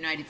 Marrillo.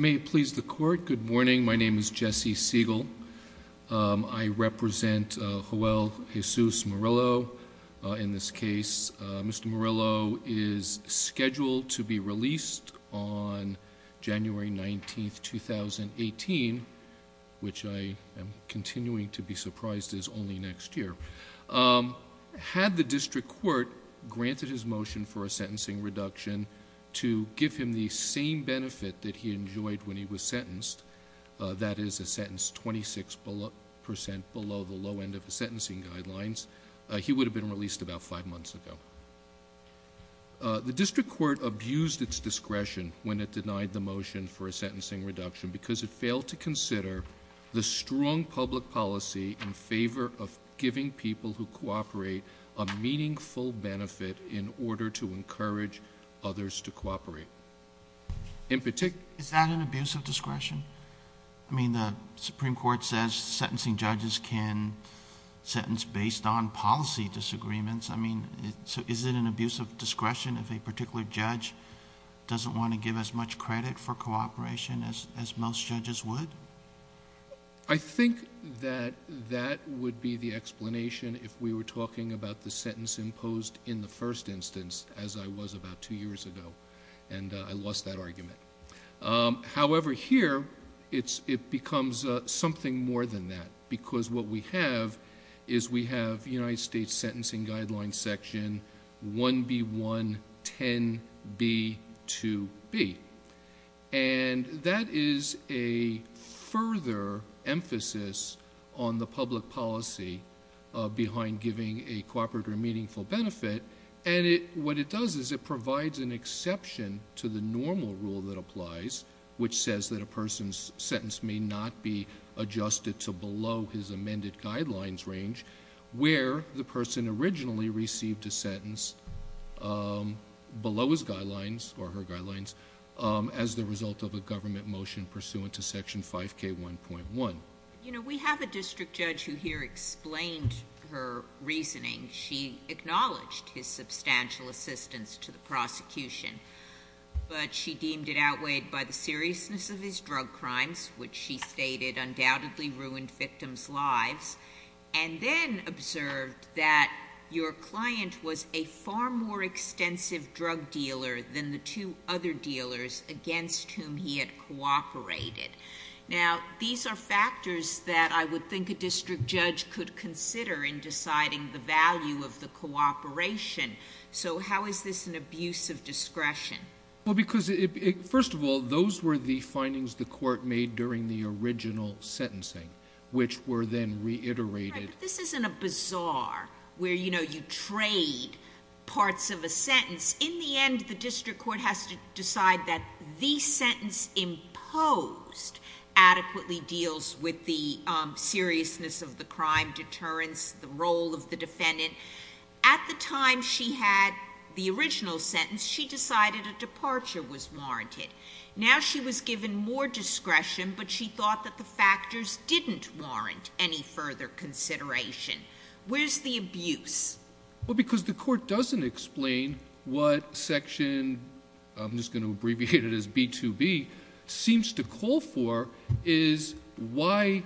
May it please the court, good morning, my name is Jesse Siegel. I represent Joel Jesus Marrillo in this case. Mr. Marrillo is scheduled to be released on January 19, 2018, which I am continuing to be surprised is only next year. Had the district court granted his motion for a sentencing reduction to give him the same benefit that he enjoyed when he was sentenced, that is a sentence 26% below the low end of the sentencing guidelines, he would have been released about five months ago. The district court abused its discretion when it denied the motion for a sentencing reduction because it failed to consider the strong public policy in favor of giving people who cooperate a meaningful benefit in order to encourage others to cooperate. In particular... Is that an abuse of discretion? I mean, the Supreme Court says sentencing judges can sentence based on policy disagreements. Is it an abuse of discretion if a particular judge doesn't want to give as much credit for cooperation as most judges would? I think that that would be the explanation if we were talking about the sentence imposed in the first instance as I was about two years ago, and I lost that argument. However here, it becomes something more than that because what we have is we have United 110B2B, and that is a further emphasis on the public policy behind giving a cooperator a meaningful benefit, and what it does is it provides an exception to the normal rule that applies, which says that a person's sentence may not be adjusted to below his amended guidelines range where the person originally received a sentence below his guidelines or her guidelines as the result of a government motion pursuant to Section 5K1.1. You know, we have a district judge who here explained her reasoning. She acknowledged his substantial assistance to the prosecution, but she deemed it outweighed by the seriousness of his drug crimes, which she stated undoubtedly ruined victims' lives and then observed that your client was a far more extensive drug dealer than the two other dealers against whom he had cooperated. Now these are factors that I would think a district judge could consider in deciding the value of the cooperation, so how is this an abuse of discretion? Well because, first of all, those were the findings the court made during the original sentencing, which were then reiterated. This isn't a bazaar where, you know, you trade parts of a sentence. In the end, the district court has to decide that the sentence imposed adequately deals with the seriousness of the crime, deterrence, the role of the defendant. At the time she had the original sentence, she decided a departure was warranted. Now she was given more discretion, but she thought that the factors didn't warrant any further consideration. Where's the abuse? Well, because the court doesn't explain what section, I'm just going to abbreviate it as B2B, seems to call for is why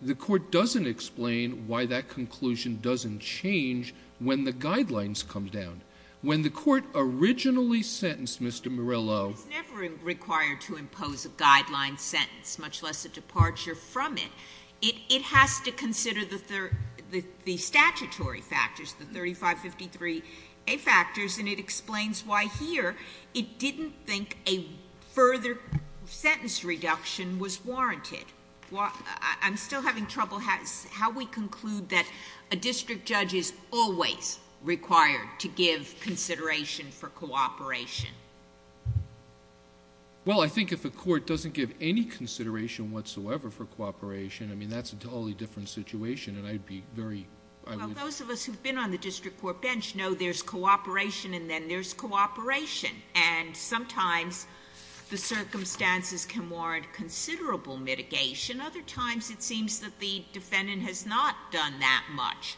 the court doesn't explain why that conclusion doesn't change when the guidelines come down. When the court originally sentenced Mr. Murillo. It's never required to impose a guideline sentence, much less a departure from it. It has to consider the statutory factors, the 3553A factors, and it explains why here it didn't think a further sentence reduction was warranted. I'm still having trouble how we conclude that a district judge is always required to give consideration for cooperation. Well, I think if a court doesn't give any consideration whatsoever for cooperation, I mean, that's a totally different situation and I'd be very... Well, those of us who've been on the district court bench know there's cooperation and then other times it seems that the defendant has not done that much.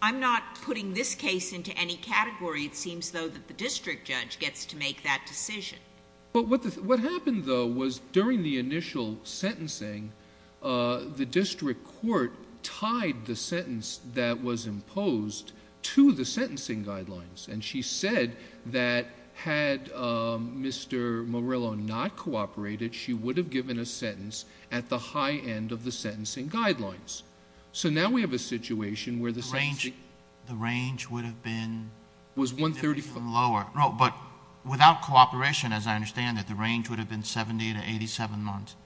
I'm not putting this case into any category. It seems though that the district judge gets to make that decision. But what happened though was during the initial sentencing, the district court tied the sentence that was imposed to the sentencing guidelines and she said that had Mr. Murillo not cooperated, she would have given a sentence at the high end of the sentencing guidelines. So now we have a situation where the sentencing... The range would have been... Was 135.... lower. No, but without cooperation, as I understand it, the range would have been 70 to 87 months.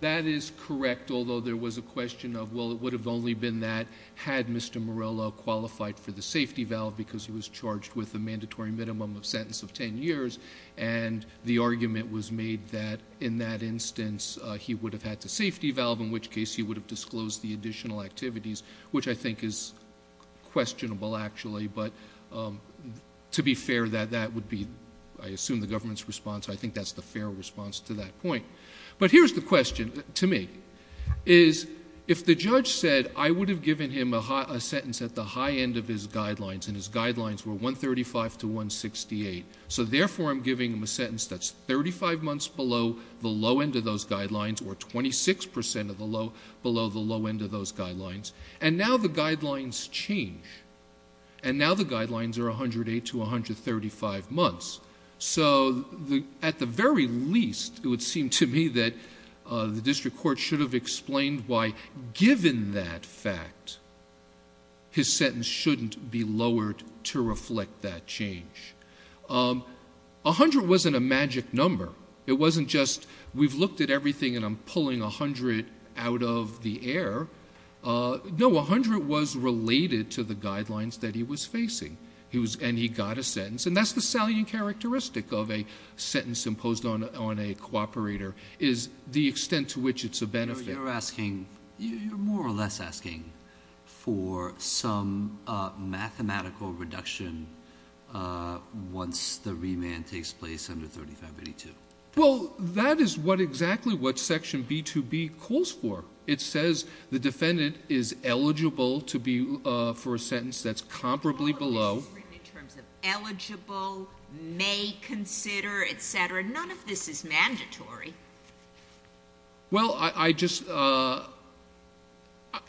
That is correct, although there was a question of, well, it would have only been that had Mr. Murillo qualified for the safety valve because he was charged with a mandatory minimum of sentence of 10 years and the argument was made that in that instance he would have had the safety valve, in which case he would have disclosed the additional activities, which I think is questionable actually. But to be fair, that would be, I assume, the government's response. I think that's the fair response to that point. But here's the question to me, is if the judge said I would have given him a sentence at the high end of his guidelines and his guidelines were 135 to 168, so therefore I'm giving him a sentence that's 35 months below the low end of those guidelines or 26 percent below the low end of those guidelines, and now the guidelines change. And now the guidelines are 108 to 135 months. So at the very least, it would seem to me that the district court should have explained why given that fact, his sentence shouldn't be lowered to reflect that change. A hundred wasn't a magic number. It wasn't just we've looked at everything and I'm pulling a hundred out of the air. No, a hundred was related to the guidelines that he was facing and he got a sentence. And that's the salient characteristic of a sentence imposed on a cooperator is the extent to which it's a benefit. You're asking, you're more or less asking for some mathematical reduction once the remand takes place under 3582. Well, that is what exactly what section B2B calls for. It says the defendant is eligible to be, for a sentence that's comparably below. In terms of eligible, may consider, et cetera, none of this is mandatory. Well, I just,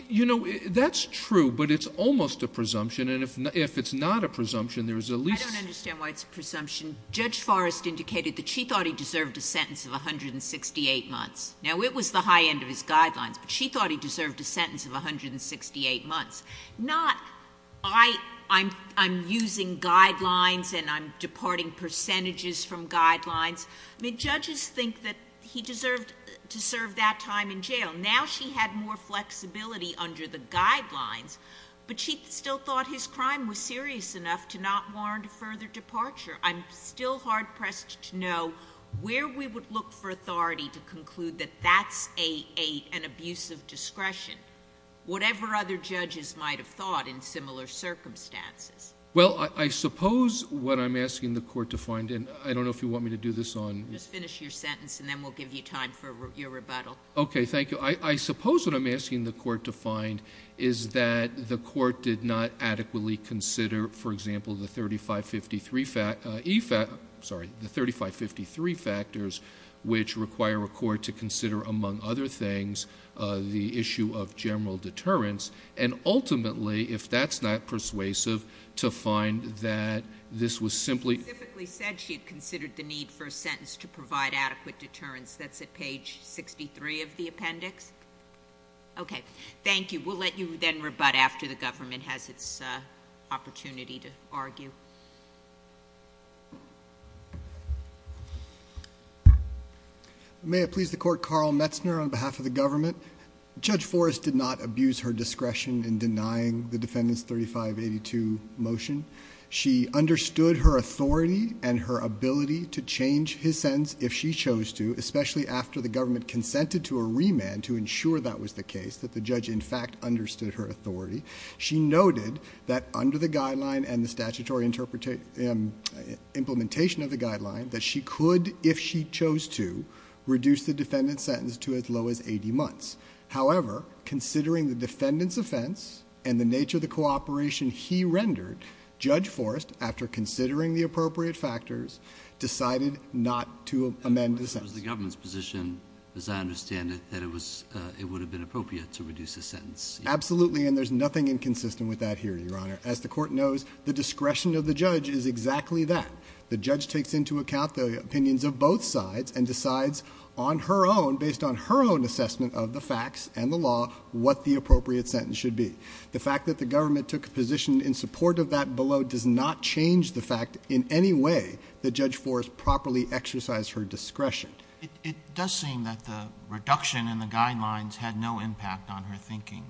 you know, that's true, but it's almost a presumption. And if it's not a presumption, there's at least... I don't understand why it's a presumption. Judge Forrest indicated that she thought he deserved a sentence of 168 months. Now it was the high end of his guidelines, but she thought he deserved a sentence of 168 months. Not I'm using guidelines and I'm departing percentages from guidelines. I mean, judges think that he deserved to serve that time in jail. Now she had more flexibility under the guidelines, but she still thought his crime was serious enough to not warrant a further departure. I'm still hard pressed to know where we would look for authority to conclude that that's a, an abusive discretion, whatever other judges might've thought in similar circumstances. Well, I suppose what I'm asking the court to find, and I don't know if you want me to do this on... Just finish your sentence and then we'll give you time for your rebuttal. Okay, thank you. I suppose what I'm asking the court to find is that the court did not adequately consider, for example, the 3553 fact, sorry, the 3553 factors, which require a court to consider, among other things, the issue of general deterrence. And ultimately, if that's not persuasive, to find that this was simply... For a sentence to provide adequate deterrence, that's at page 63 of the appendix. Okay, thank you. We'll let you then rebut after the government has its opportunity to argue. May it please the court, Carl Metzner on behalf of the government. Judge Forrest did not abuse her discretion in denying the defendant's 3582 motion. She understood her authority and her ability to change his sentence if she chose to, especially after the government consented to a remand to ensure that was the case, that the judge in fact understood her authority. She noted that under the guideline and the statutory implementation of the guideline that she could, if she chose to, reduce the defendant's sentence to as low as 80 months. However, considering the defendant's offense and the nature of the cooperation he rendered, Judge Forrest, after considering the appropriate factors, decided not to amend the sentence. The government's position, as I understand it, that it would have been appropriate to reduce the sentence. Absolutely, and there's nothing inconsistent with that here, Your Honor. As the court knows, the discretion of the judge is exactly that. The judge takes into account the opinions of both sides and decides on her own, based on her own assessment of the facts and the law, what the appropriate sentence should be. The fact that the government took a position in support of that below does not change the fact in any way that Judge Forrest properly exercised her discretion. It does seem that the reduction in the guidelines had no impact on her thinking.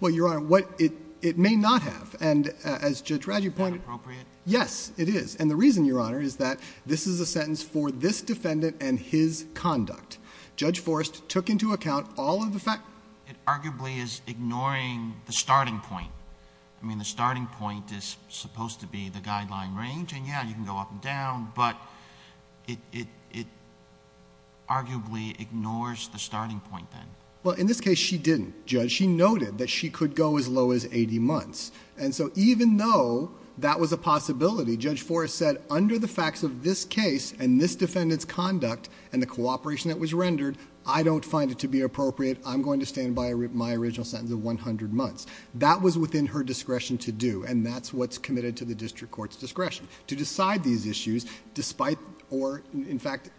Well, Your Honor, it may not have. And as Judge Radd, you pointed out— Is that appropriate? Yes, it is. And the reason, Your Honor, is that this is a sentence for this defendant and his conduct. Judge Forrest took into account all of the... It arguably is ignoring the starting point. I mean, the starting point is supposed to be the guideline range, and yeah, you can go up and down, but it arguably ignores the starting point then. Well, in this case, she didn't, Judge. She noted that she could go as low as eighty months. And so, even though that was a possibility, Judge Forrest said, under the facts of this case and this defendant's conduct and the cooperation that was rendered, I don't find it to be appropriate. I'm going to stand by my original sentence of one hundred months. That was within her discretion to do, and that's what's committed to the district court's discretion, to decide these issues despite or, in fact,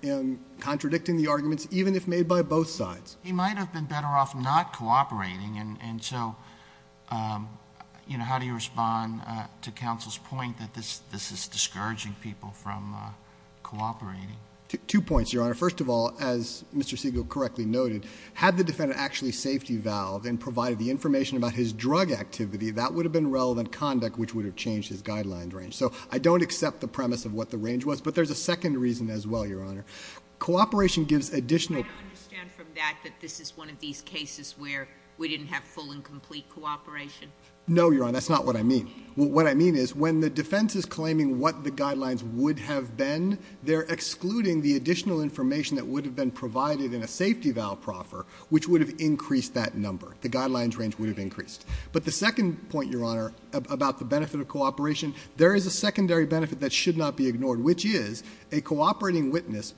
contradicting the arguments, even if made by both sides. He might have been better off not cooperating, and so, you know, how do you respond to this? This is discouraging people from cooperating. Two points, Your Honor. First of all, as Mr. Siegel correctly noted, had the defendant actually safety-valved and provided the information about his drug activity, that would have been relevant conduct which would have changed his guideline range. So I don't accept the premise of what the range was, but there's a second reason as well, Your Honor. Cooperation gives additional... I understand from that that this is one of these cases where we didn't have full and complete cooperation. No, Your Honor. That's not what I mean. What I mean is when the defense is claiming what the guidelines would have been, they're excluding the additional information that would have been provided in a safety-valve proffer, which would have increased that number. The guidelines range would have increased. But the second point, Your Honor, about the benefit of cooperation, there is a secondary benefit that should not be ignored, which is a cooperating witness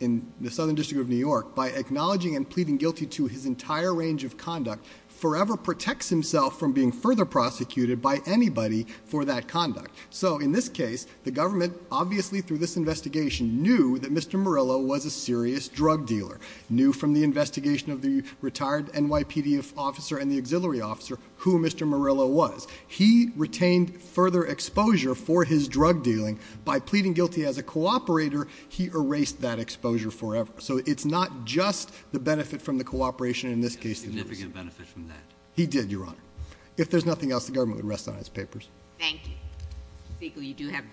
in the Southern District of New York, by acknowledging and pleading guilty to his entire range of conduct, forever protects himself from being further prosecuted by anybody for that conduct. So in this case, the government, obviously through this investigation, knew that Mr. Murillo was a serious drug dealer, knew from the investigation of the retired NYPD officer and the auxiliary officer who Mr. Murillo was. He retained further exposure for his drug dealing. By pleading guilty as a cooperator, he erased that exposure forever. So it's not just the benefit from the cooperation in this case... He did, Your Honor. If there's nothing else, the government would rest on its papers. Thank you. Mr. Speaker, you do have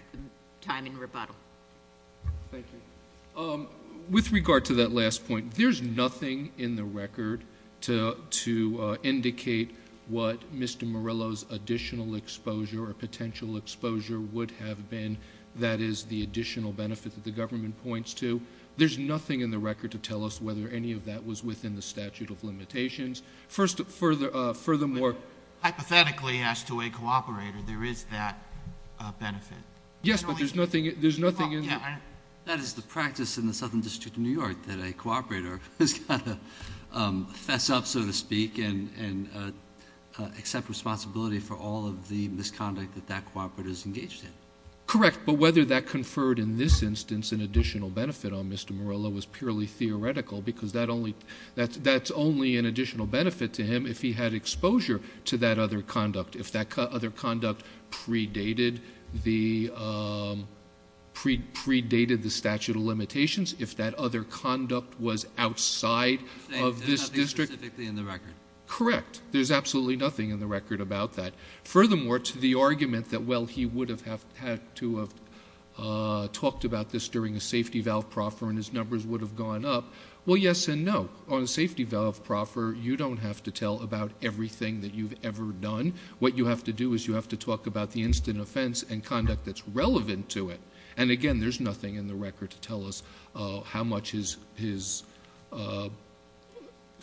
time in rebuttal. With regard to that last point, there's nothing in the record to indicate what Mr. Murillo's additional exposure or potential exposure would have been that is the additional benefit that the government points to. There's nothing in the record to tell us whether any of that was within the statute of limitations. Furthermore... Hypothetically, as to a cooperator, there is that benefit. Yes, but there's nothing in... That is the practice in the Southern District of New York that a cooperator has got to fess up, so to speak, and accept responsibility for all of the misconduct that that cooperator is engaged in. Correct. But whether that conferred in this instance an additional benefit on Mr. Murillo was purely theoretical, because that's only an additional benefit to him if he had exposure to that other conduct, if that other conduct predated the statute of limitations, if that other conduct was outside of this district... There's nothing specifically in the record. Correct. There's absolutely nothing in the record about that. Furthermore, to the argument that, well, he would have had to have talked about this during a safety valve proffer and his numbers would have gone up, well, yes and no. On a safety valve proffer, you don't have to tell about everything that you've ever done. What you have to do is you have to talk about the instant offense and conduct that's relevant to it. And again, there's nothing in the record to tell us how much his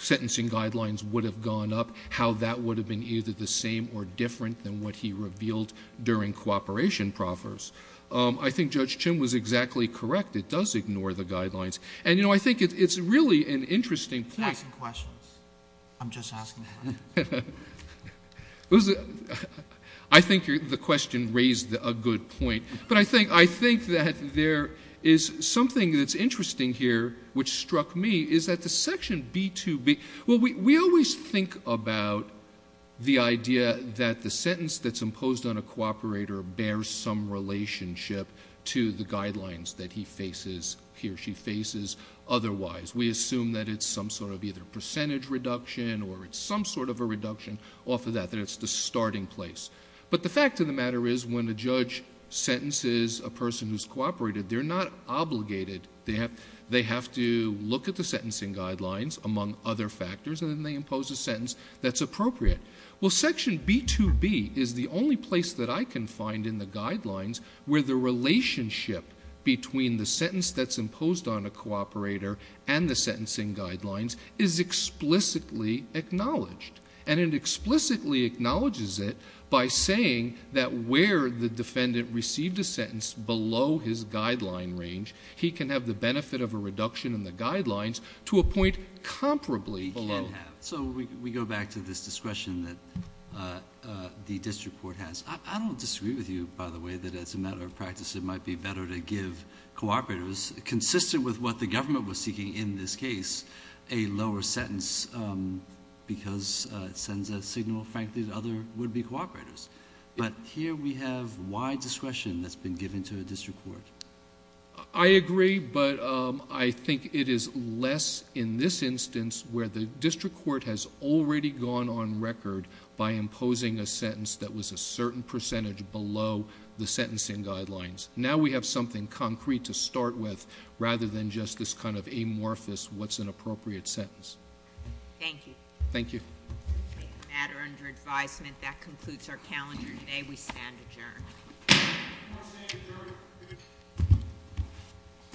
sentencing guidelines would have gone up, how that would have been either the same or different than what he revealed during cooperation proffers. I think Judge Chim was exactly correct. It does ignore the guidelines. And you know, I think it's really an interesting point... You have some questions. I'm just asking. I think the question raised a good point. But I think that there is something that's interesting here, which struck me, is that the section B2B... well, we always think about the idea that the sentence that's appropriate is in relationship to the guidelines that he faces here, she faces otherwise. We assume that it's some sort of either percentage reduction or it's some sort of a reduction off of that, that it's the starting place. But the fact of the matter is when a judge sentences a person who's cooperated, they're not obligated. They have to look at the sentencing guidelines among other factors and then they impose a sentence that's appropriate. Well, section B2B is the only place that I can find in the guidelines where the relationship between the sentence that's imposed on a cooperator and the sentencing guidelines is explicitly acknowledged. And it explicitly acknowledges it by saying that where the defendant received a sentence below his guideline range, he can have the benefit of a reduction in the guidelines to a point comparably below. So we go back to this discretion that the district court has. I don't disagree with you, by the way, that as a matter of practice, it might be better to give cooperators consistent with what the government was seeking in this case, a lower sentence because it sends a signal, frankly, to other would-be cooperators. But here we have wide discretion that's been given to a district court. I agree, but I think it is less in this instance where the district court has already gone on record by imposing a sentence that was a certain percentage below the sentencing guidelines. Now we have something concrete to start with rather than just this kind of amorphous what's an appropriate sentence. Thank you. Thank you. Okay. A matter under advisement. That concludes our calendar today. We stand adjourned. We stand adjourned.